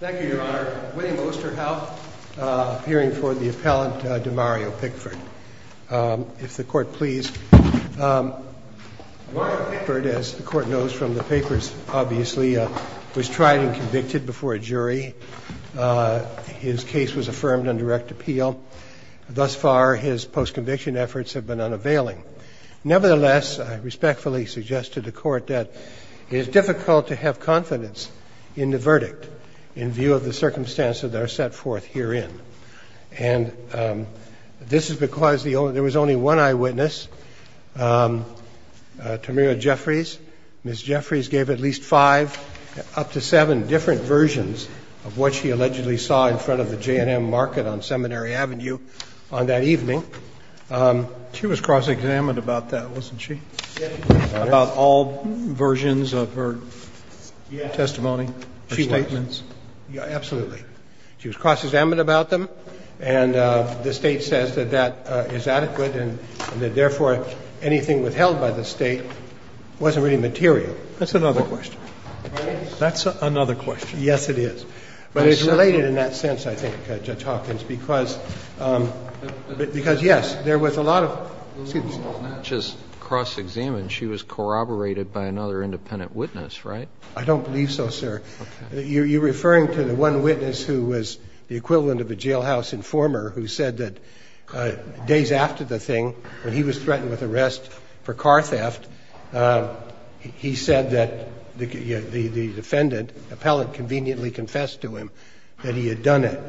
Thank you, Your Honor. My name is Osterhout, appearing for the appellant, DiMario Pickford. If the court please. DiMario Pickford, as the court knows from the papers, obviously, was tried and convicted before a jury. His case was affirmed on direct appeal. Thus far, his post-conviction efforts have been unavailing. Nevertheless, I respectfully suggest to the court that it is difficult to have confidence in the verdict in view of the circumstances that are set forth herein. And this is because there was only one eyewitness, Tamirah Jeffries. Ms. Jeffries gave at least five, up to seven different versions of what she allegedly saw in front of the J&M Market on Seminary Avenue on that evening. She was cross-examined about that, wasn't she? About all versions of her testimony, her statements? Yeah, absolutely. She was cross-examined about them. And the State says that that is adequate and that, therefore, anything withheld by the State wasn't really material. That's another question. That's another question. Yes, it is. But it's related in that sense, I think, Judge Hawkins, because, yes, there was a lot of – excuse me. Well, not just cross-examined. She was corroborated by another independent witness, right? I don't believe so, sir. Okay. You're referring to the one witness who was the equivalent of a jailhouse informer who said that days after the thing, when he was threatened with arrest for car theft, he said that the defendant, the appellant, conveniently confessed to him that he had done it.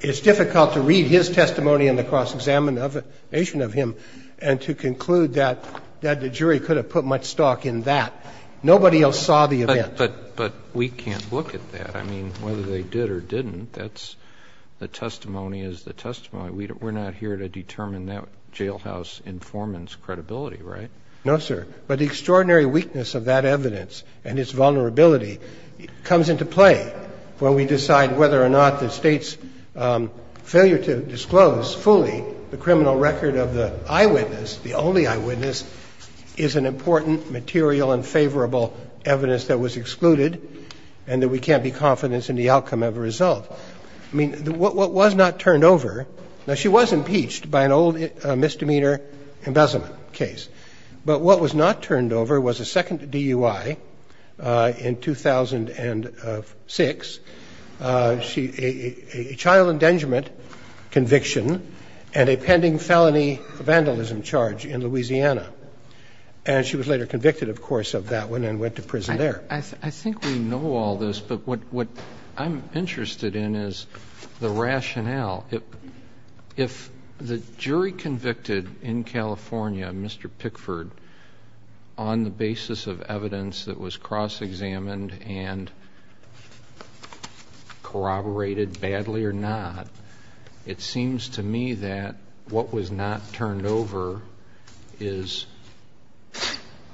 It's difficult to read his testimony and the cross-examination of him and to conclude that the jury could have put much stock in that. Nobody else saw the event. But we can't look at that. I mean, whether they did or didn't, that's – the testimony is the testimony. We're not here to determine that jailhouse informant's credibility, right? No, sir. But the extraordinary weakness of that evidence and its vulnerability comes into play when we decide whether or not the State's failure to disclose fully the criminal record of the eyewitness, the only eyewitness, is an important material and favorable evidence that was excluded and that we can't be confident in the outcome of a result. I mean, what was not turned over – now, she was impeached by an old misdemeanor embezzlement case. But what was not turned over was a second DUI in 2006, a child endangerment conviction and a pending felony vandalism charge in Louisiana. And she was later convicted, of course, of that one and went to prison there. I think we know all this, but what I'm interested in is the rationale. If the jury convicted in California Mr. Pickford on the basis of evidence that was cross-examined and corroborated badly or not, it seems to me that what was not turned over is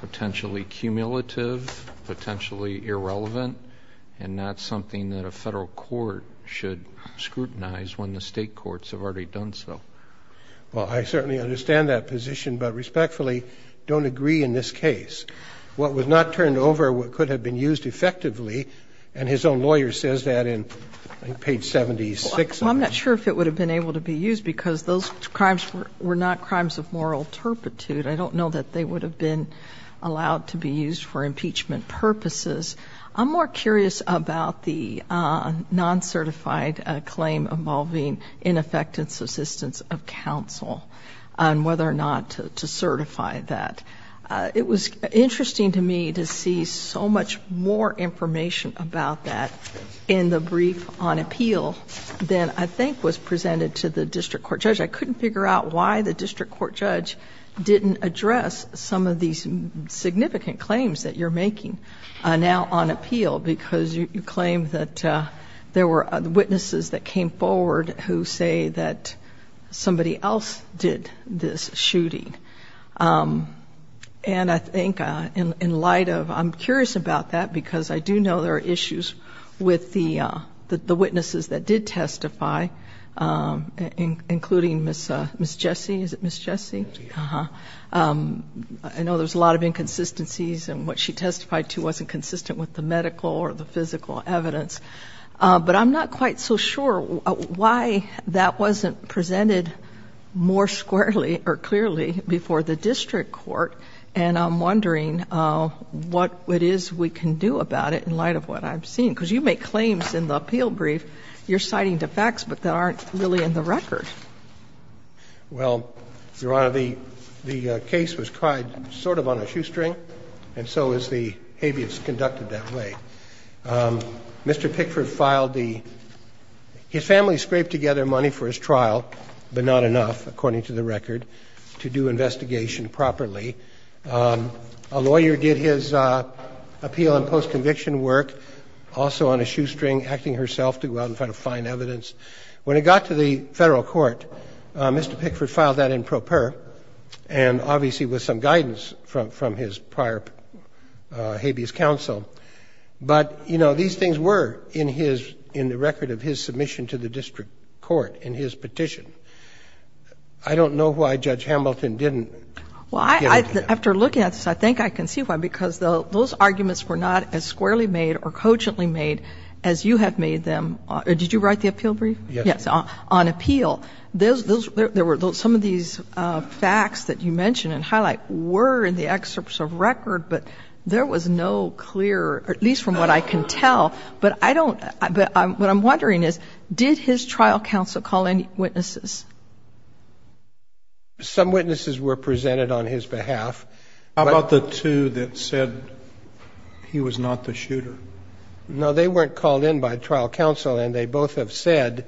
potentially cumulative, potentially irrelevant, and not something that a Federal court should scrutinize when the State courts have already done so. Well, I certainly understand that position, but respectfully don't agree in this case. What was not turned over could have been used effectively, and his own lawyer says that in page 76. Well, I'm not sure if it would have been able to be used because those crimes were not crimes of moral turpitude. I don't know that they would have been allowed to be used for impeachment purposes. I'm more curious about the non-certified claim involving ineffective assistance of counsel and whether or not to certify that. It was interesting to me to see so much more information about that in the brief on appeal than I think was presented to the district court judge. I couldn't figure out why the district court judge didn't address some of these significant claims that you're making now on appeal, because you claim that there were witnesses that came forward who say that somebody else did this shooting. And I think in light of, I'm curious about that because I do know there are issues with the witnesses that did testify, including Ms. Jessie. Is it Ms. Jessie? I know there's a lot of inconsistencies and what she testified to wasn't consistent with the medical or the physical evidence. But I'm not quite so sure why that wasn't presented more squarely or clearly before the district court. And I'm wondering what it is we can do about it in light of what I've seen, because you make claims in the appeal brief. You're citing the facts, but they aren't really in the record. Well, Your Honor, the case was tried sort of on a shoestring, and so is the habeas conducted that way. Mr. Pickford filed the – his family scraped together money for his trial, but not enough, according to the record, to do investigation properly. A lawyer did his appeal and post-conviction work also on a shoestring, acting herself to go out and try to find evidence. When it got to the federal court, Mr. Pickford filed that in pro per, and obviously with some guidance from his prior habeas counsel. But, you know, these things were in his – in the record of his submission to the district court in his petition. I don't know why Judge Hamilton didn't give it to him. Well, after looking at this, I think I can see why, because those arguments were not as squarely made or cogently made as you have made them. Did you write the appeal brief? Yes. Yes, on appeal. There were some of these facts that you mention and highlight were in the excerpts of record, but there was no clear, at least from what I can tell. But I don't – what I'm wondering is, did his trial counsel call in witnesses? Some witnesses were presented on his behalf. How about the two that said he was not the shooter? No, they weren't called in by trial counsel, and they both have said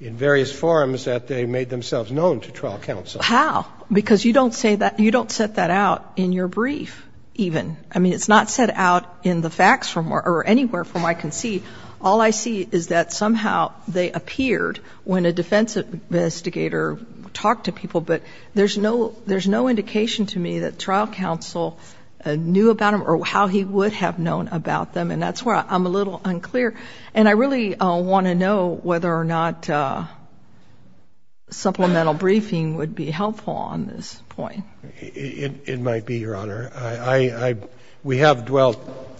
in various forums that they made themselves known to trial counsel. How? Because you don't say that – you don't set that out in your brief even. I mean, it's not set out in the facts or anywhere from what I can see. All I see is that somehow they appeared when a defense investigator talked to people, but there's no indication to me that trial counsel knew about them or how he would have known about them. And that's where I'm a little unclear. And I really want to know whether or not supplemental briefing would be helpful on this point. It might be, Your Honor. We have dwelt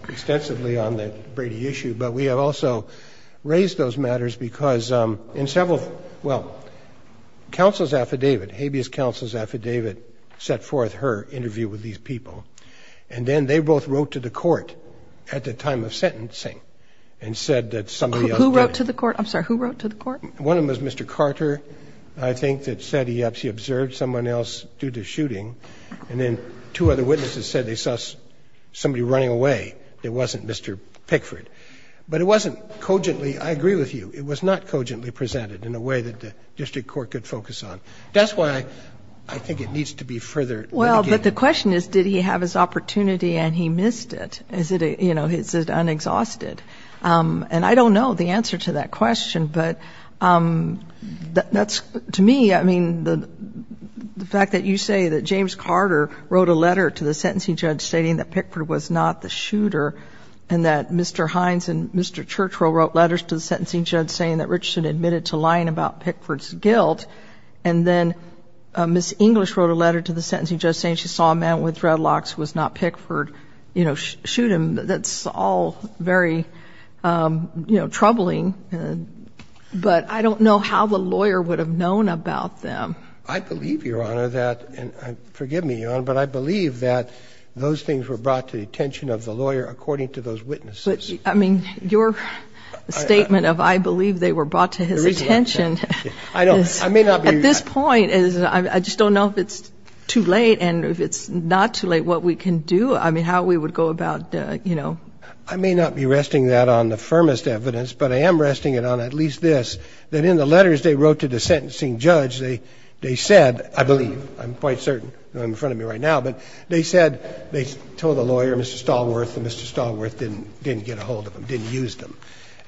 extensively on the Brady issue, but we have also raised those matters because in several – well, counsel's affidavit, habeas counsel's affidavit set forth her interview with these people. And then they both wrote to the court at the time of sentencing and said that somebody else did it. Who wrote to the court? I'm sorry. Who wrote to the court? One of them was Mr. Carter, I think, that said he observed someone else due to shooting. And then two other witnesses said they saw somebody running away that wasn't Mr. Pickford. But it wasn't cogently – I agree with you. It was not cogently presented in a way that the district court could focus on. That's why I think it needs to be further – Well, but the question is, did he have his opportunity and he missed it? Is it, you know, is it unexhausted? And I don't know the answer to that question. But that's – to me, I mean, the fact that you say that James Carter wrote a letter to the sentencing judge stating that Pickford was not the shooter and that Mr. Hines and Mr. Churchill wrote letters to the sentencing judge saying that Richardson admitted to lying about Pickford's guilt, and then Ms. English wrote a letter to the sentencing judge saying she saw a man with dreadlocks who was not Pickford, you know, shoot him, that's all very, you know, troubling. But I don't know how the lawyer would have known about them. I believe, Your Honor, that – and forgive me, Your Honor, but I believe that those things were brought to the attention of the lawyer according to those witnesses. But, I mean, your statement of I believe they were brought to his attention is – At this point, I just don't know if it's too late, and if it's not too late, what we can do. I mean, how we would go about, you know. I may not be resting that on the firmest evidence, but I am resting it on at least this, that in the letters they wrote to the sentencing judge, they said – I believe, I'm quite certain, not in front of me right now, but they said – they told the lawyer, Mr. Stallworth, and Mr. Stallworth didn't get a hold of them, didn't use them.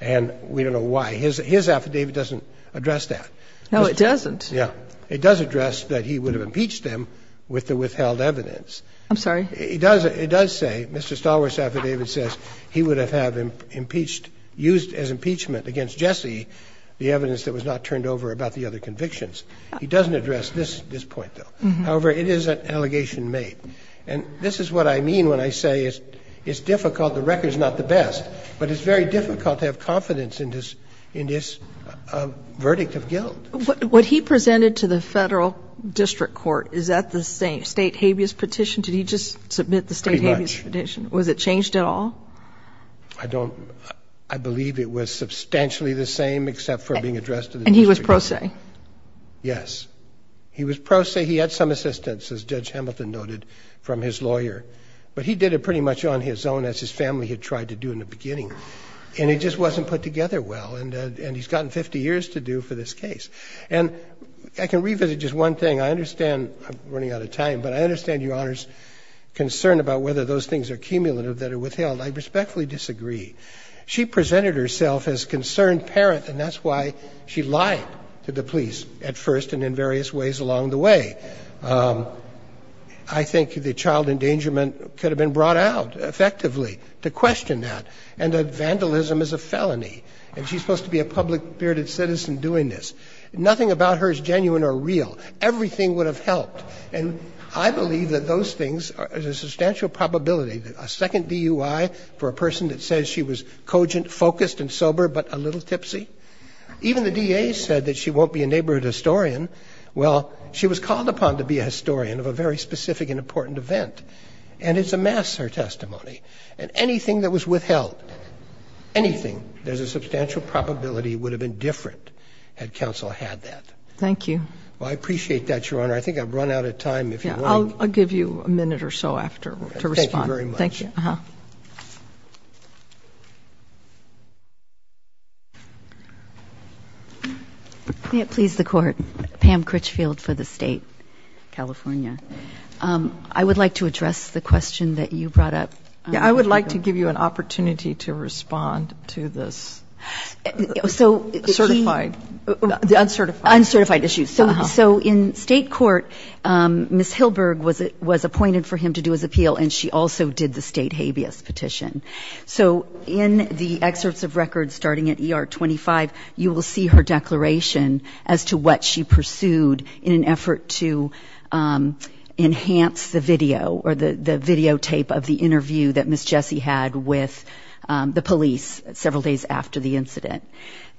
And we don't know why. His affidavit doesn't address that. No, it doesn't. Yeah. It does address that he would have impeached them with the withheld evidence. I'm sorry? It does say – Mr. Stallworth's affidavit says he would have used as impeachment against Jesse the evidence that was not turned over about the other convictions. He doesn't address this point, though. However, it is an allegation made. And this is what I mean when I say it's difficult. The record is not the best, but it's very difficult to have confidence in this verdict of guilt. What he presented to the federal district court, is that the same state habeas petition? Did he just submit the state habeas petition? Pretty much. Was it changed at all? I don't – I believe it was substantially the same except for being addressed to the district court. And he was pro se? Yes. He was pro se. He had some assistance, as Judge Hamilton noted, from his lawyer. But he did it pretty much on his own, as his family had tried to do in the beginning. And it just wasn't put together well. And he's gotten 50 years to do for this case. And I can revisit just one thing. I understand – I'm running out of time – but I understand Your Honor's concern about whether those things are cumulative that are withheld. I respectfully disagree. She presented herself as a concerned parent, and that's why she lied to the police at first and in various ways along the way. I think the child endangerment could have been brought out effectively to question that, and that vandalism is a felony. And she's supposed to be a public-bearded citizen doing this. Nothing about her is genuine or real. Everything would have helped. And I believe that those things are a substantial probability. A second DUI for a person that says she was cogent, focused, and sober but a little tipsy? Even the DA said that she won't be a neighborhood historian. Well, she was called upon to be a historian of a very specific and important event, and it's amassed her testimony. And anything that was withheld, anything, there's a substantial probability it would have been different had counsel had that. Thank you. Well, I appreciate that, Your Honor. I think I've run out of time. I'll give you a minute or so after to respond. Thank you very much. Thank you. May it please the Court. Pam Critchfield for the State. California. I would like to address the question that you brought up. Yeah, I would like to give you an opportunity to respond to this. Certified. Uncertified. Uncertified issue. So in State court, Ms. Hilberg was appointed for him to do his appeal, and she also did the State habeas petition. So in the excerpts of records starting at ER 25, you will see her declaration as to what she pursued in an effort to enhance the video or the videotape of the interview that Ms. Jessie had with the police several days after the incident.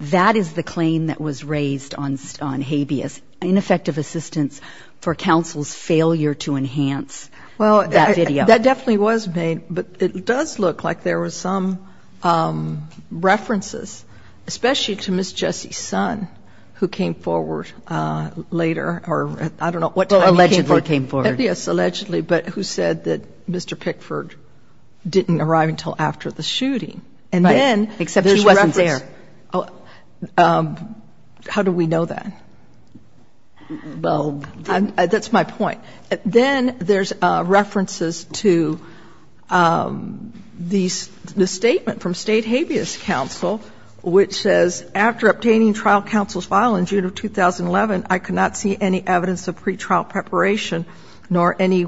That is the claim that was raised on habeas, ineffective assistance for counsel's failure to enhance that video. That definitely was made, but it does look like there was some references, especially to Ms. Jessie's son who came forward later, or I don't know what time he came forward. Allegedly came forward. Yes, allegedly, but who said that Mr. Pickford didn't arrive until after the shooting. Right, except he wasn't there. How do we know that? That's my point. Then there's references to the statement from State habeas counsel which says, after obtaining trial counsel's file in June of 2011, I could not see any evidence of pretrial preparation nor any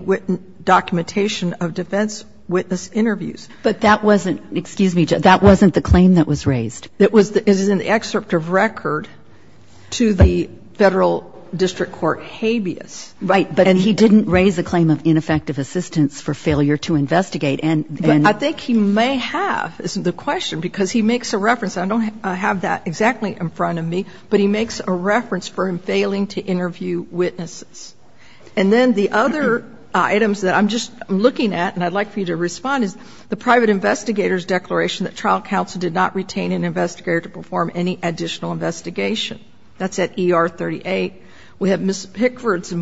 documentation of defense witness interviews. But that wasn't the claim that was raised. It was in the excerpt of record to the Federal District Court habeas. And he didn't raise the claim of ineffective assistance for failure to investigate. I think he may have, is the question, because he makes a reference. I don't have that exactly in front of me, but he makes a reference for him failing to interview witnesses. And then the other items that I'm just looking at and I'd like for you to respond is the private investigator's declaration that trial counsel did not retain an investigator to perform any additional investigation. That's at ER 38. We have Mr.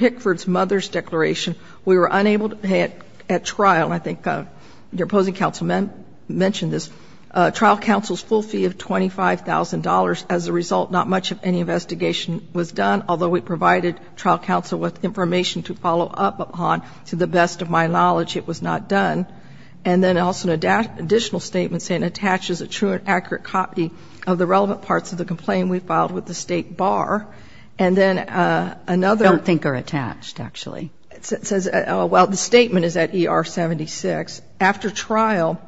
Pickford's mother's declaration. We were unable to pay at trial. I think your opposing counsel mentioned this. Trial counsel's full fee of $25,000. As a result, not much of any investigation was done, although we provided trial counsel with information to follow up upon. To the best of my knowledge, it was not done. And then also an additional statement saying, I don't think they're attached, actually. It says, well, the statement is at ER 76. After trial,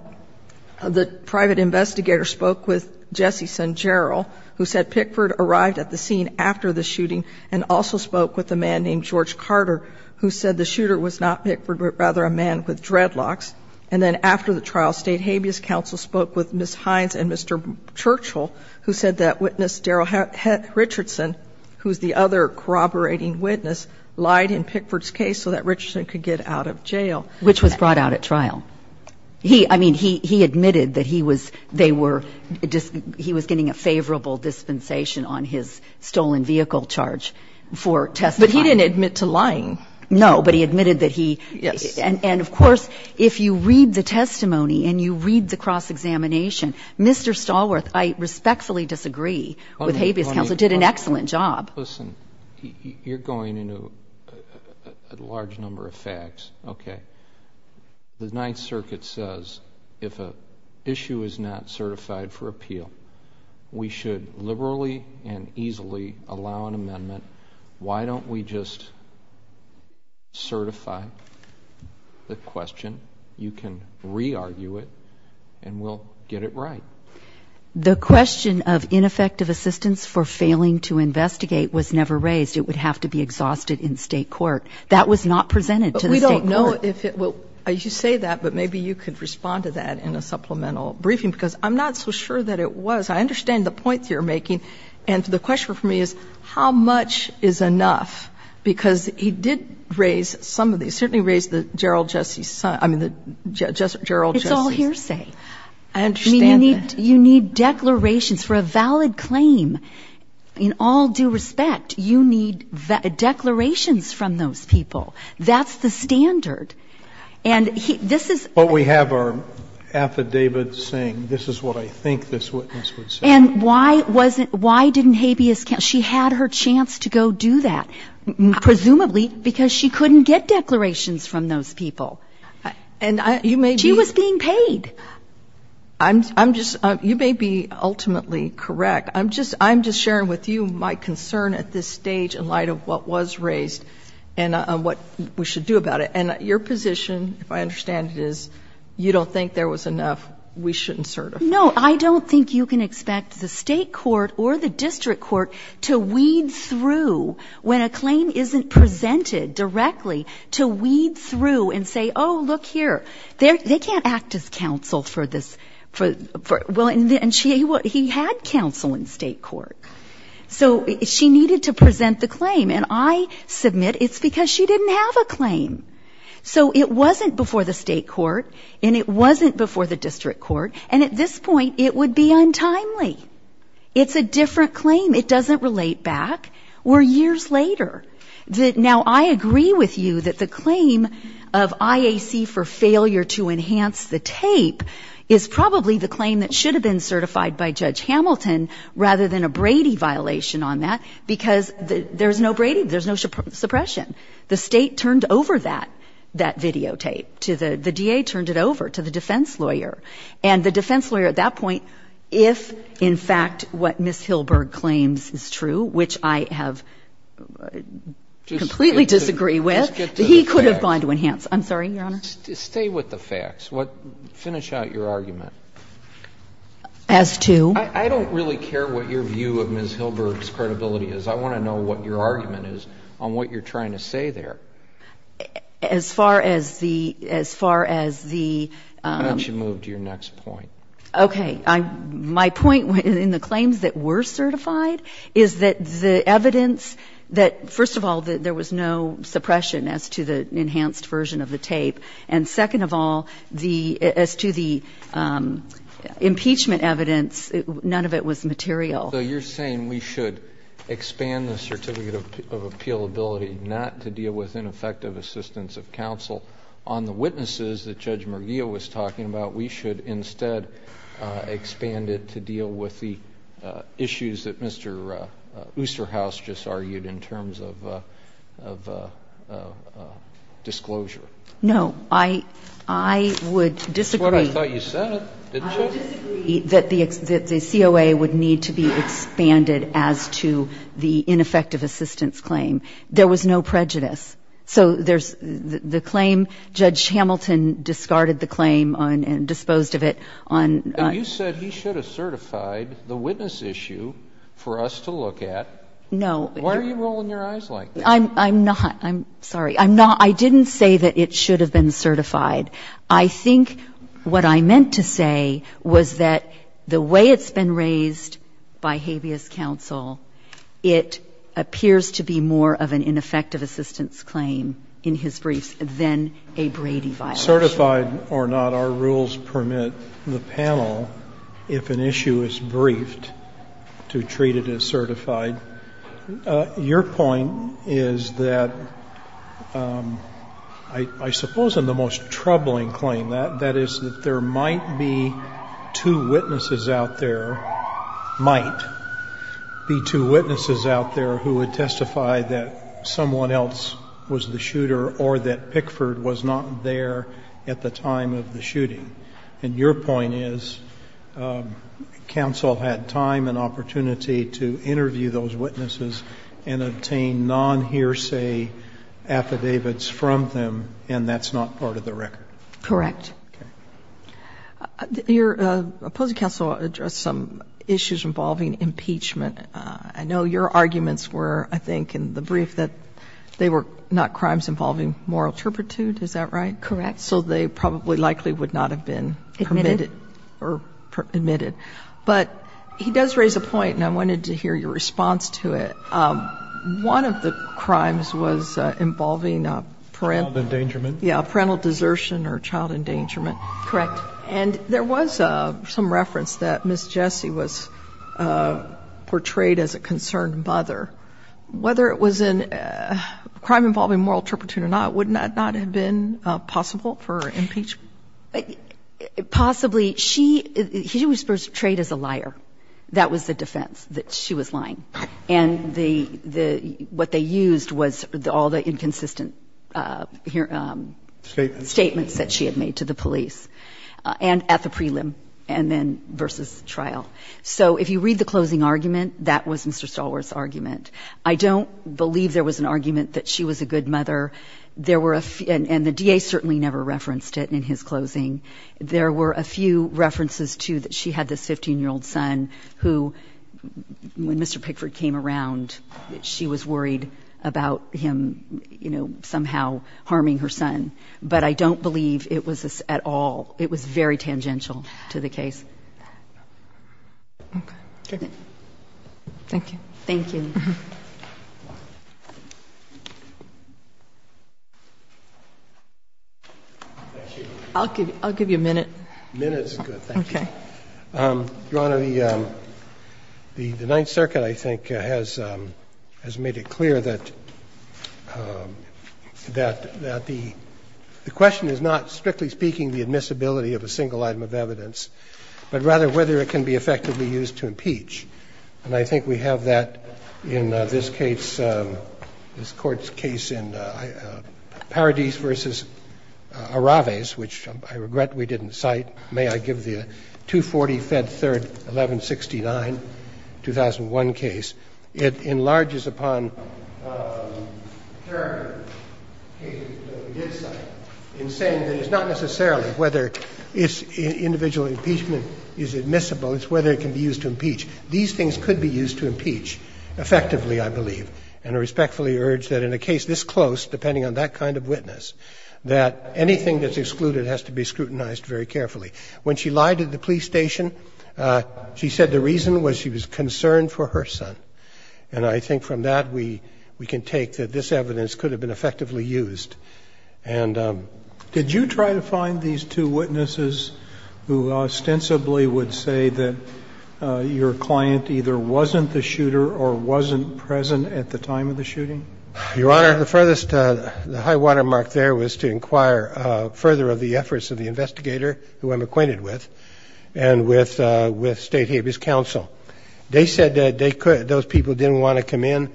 the private investigator spoke with Jesse Sangero, who said Pickford arrived at the scene after the shooting, and also spoke with a man named George Carter, who said the shooter was not Pickford, but rather a man with dreadlocks. And then after the trial, State Habeas Counsel spoke with Mr. Hines and Mr. Churchill, who said that witness Daryl Richardson, who's the other corroborating witness, lied in Pickford's case so that Richardson could get out of jail. Which was brought out at trial. He, I mean, he admitted that he was, they were, he was getting a favorable dispensation on his stolen vehicle charge for testifying. But he didn't admit to lying. No, but he admitted that he. Yes. And, of course, if you read the testimony and you read the cross-examination, Mr. Stallworth, I respectfully disagree with Habeas Counsel. It did an excellent job. Listen, you're going into a large number of facts. Okay. The Ninth Circuit says if an issue is not certified for appeal, we should liberally and easily allow an amendment. Why don't we just certify the question? You can re-argue it and we'll get it right. The question of ineffective assistance for failing to investigate was never raised. It would have to be exhausted in state court. That was not presented to the state court. But we don't know if it will, you say that, but maybe you could respond to that in a supplemental briefing, because I'm not so sure that it was. I understand the points you're making. And the question for me is how much is enough? Because he did raise some of these. He certainly raised the Gerald Jesse's son. I mean, the Gerald Jesse's. It's all hearsay. I understand that. I mean, you need declarations for a valid claim. In all due respect, you need declarations from those people. That's the standard. And this is what we have our affidavits saying, this is what I think this witness would say. And why wasn't, why didn't Habeas County, she had her chance to go do that, presumably because she couldn't get declarations from those people. She was being paid. I'm just, you may be ultimately correct. I'm just sharing with you my concern at this stage in light of what was raised and what we should do about it. And your position, if I understand it, is you don't think there was enough, we shouldn't certify. No, I don't think you can expect the state court or the district court to weed through when a claim isn't presented directly, to weed through and say, oh, look here. They can't act as counsel for this. And he had counsel in state court. So she needed to present the claim. And I submit it's because she didn't have a claim. So it wasn't before the state court and it wasn't before the district court. And at this point, it would be untimely. It's a different claim. It doesn't relate back. We're years later. Now, I agree with you that the claim of IAC for failure to enhance the tape is probably the claim that should have been certified by Judge Hamilton rather than a Brady violation on that, because there's no Brady, there's no suppression. The state turned over that videotape to the DA, turned it over to the defense lawyer. And the defense lawyer at that point, if in fact what Ms. Hilberg claims is true, which I have completely disagree with, he could have gone to enhance. I'm sorry, Your Honor. Stay with the facts. Finish out your argument. As to? I don't really care what your view of Ms. Hilberg's credibility is. I want to know what your argument is on what you're trying to say there. As far as the, as far as the. Why don't you move to your next point? Okay. My point in the claims that were certified is that the evidence that, first of all, there was no suppression as to the enhanced version of the tape. And second of all, as to the impeachment evidence, none of it was material. So you're saying we should expand the certificate of appealability not to deal with ineffective assistance of counsel. On the witnesses that Judge Murguia was talking about, we should instead expand it to deal with the issues that Mr. Oosterhuis just argued in terms of disclosure. No. I would disagree. That's what I thought you said, didn't you? I would disagree that the COA would need to be expanded as to the ineffective assistance claim. There was no prejudice. So there's the claim, Judge Hamilton discarded the claim and disposed of it on. You said he should have certified the witness issue for us to look at. No. What are you rolling your eyes like? I'm not. I'm sorry. I'm not. I didn't say that it should have been certified. I think what I meant to say was that the way it's been raised by habeas counsel, it appears to be more of an ineffective assistance claim in his briefs than a Brady violation. Certified or not, our rules permit the panel, if an issue is briefed, to treat it as certified. Your point is that I suppose in the most troubling claim, that is that there might be two witnesses out there, might be two witnesses out there who would testify that someone else was the shooter or that Pickford was not there at the time of the shooting. And your point is counsel had time and opportunity to interview those witnesses and obtain non-hearsay affidavits from them, and that's not part of the record. Correct. Okay. Your opposing counsel addressed some issues involving impeachment. I know your arguments were, I think, in the brief, that they were not crimes involving moral turpitude. Is that right? Correct. So they probably likely would not have been permitted or admitted. But he does raise a point, and I wanted to hear your response to it. One of the crimes was involving parental desertion or child endangerment. Correct. And there was some reference that Ms. Jessie was portrayed as a concerned mother. Whether it was a crime involving moral turpitude or not, would that not have been possible for impeachment? Possibly. She was portrayed as a liar. That was the defense, that she was lying. And the – what they used was all the inconsistent statements that she had made to the police and at the prelim and then versus trial. So if you read the closing argument, that was Mr. Stalwart's argument. I don't believe there was an argument that she was a good mother. There were – and the DA certainly never referenced it in his closing. There were a few references, too, that she had this 15-year-old son who, when Mr. Pickford came around, she was worried about him, you know, somehow harming her son. But I don't believe it was at all – it was very tangential to the case. Okay. Thank you. Thank you. I'll give you a minute. A minute is good, thank you. Okay. Your Honor, the Ninth Circuit, I think, has made it clear that the question is not, strictly speaking, the admissibility of a single item of evidence, but rather whether it can be effectively used to impeach. And I think we have that in this case, this Court's case in Paradis v. Araves, which I regret we didn't cite. May I give the 240, Fed 3rd, 1169, 2001 case? It enlarges upon character cases that we did cite in saying that it's not necessarily whether individual impeachment is admissible, it's whether it can be used to impeach. These things could be used to impeach effectively, I believe, and I respectfully urge that in a case this close, depending on that kind of witness, that anything that's excluded has to be scrutinized very carefully. When she lied at the police station, she said the reason was she was concerned for her son. And I think from that, we can take that this evidence could have been effectively used. And did you try to find these two witnesses who ostensibly would say that your client either wasn't the shooter or wasn't present at the time of the shooting? Your Honor, the furthest, the high watermark there was to inquire further of the efforts of the investigator, who I'm acquainted with, and with State Habeas Council. They said that those people didn't want to come in.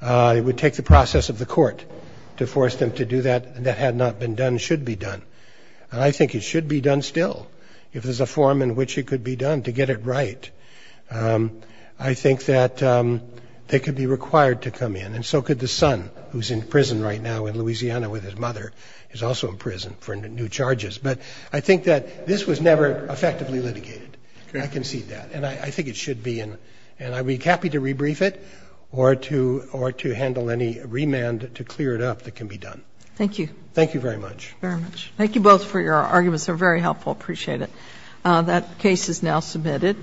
It would take the process of the court to force them to do that. That had not been done, should be done. And I think it should be done still, if there's a form in which it could be done to get it right. I think that they could be required to come in, and so could the son, who's in prison right now in Louisiana with his mother, who's also in prison for new charges. But I think that this was never effectively litigated. I concede that. And I think it should be. And I would be happy to rebrief it or to handle any remand to clear it up that can be done. Thank you. Thank you very much. Very much. Thank you both for your arguments. They were very helpful. I appreciate it. That case is now submitted.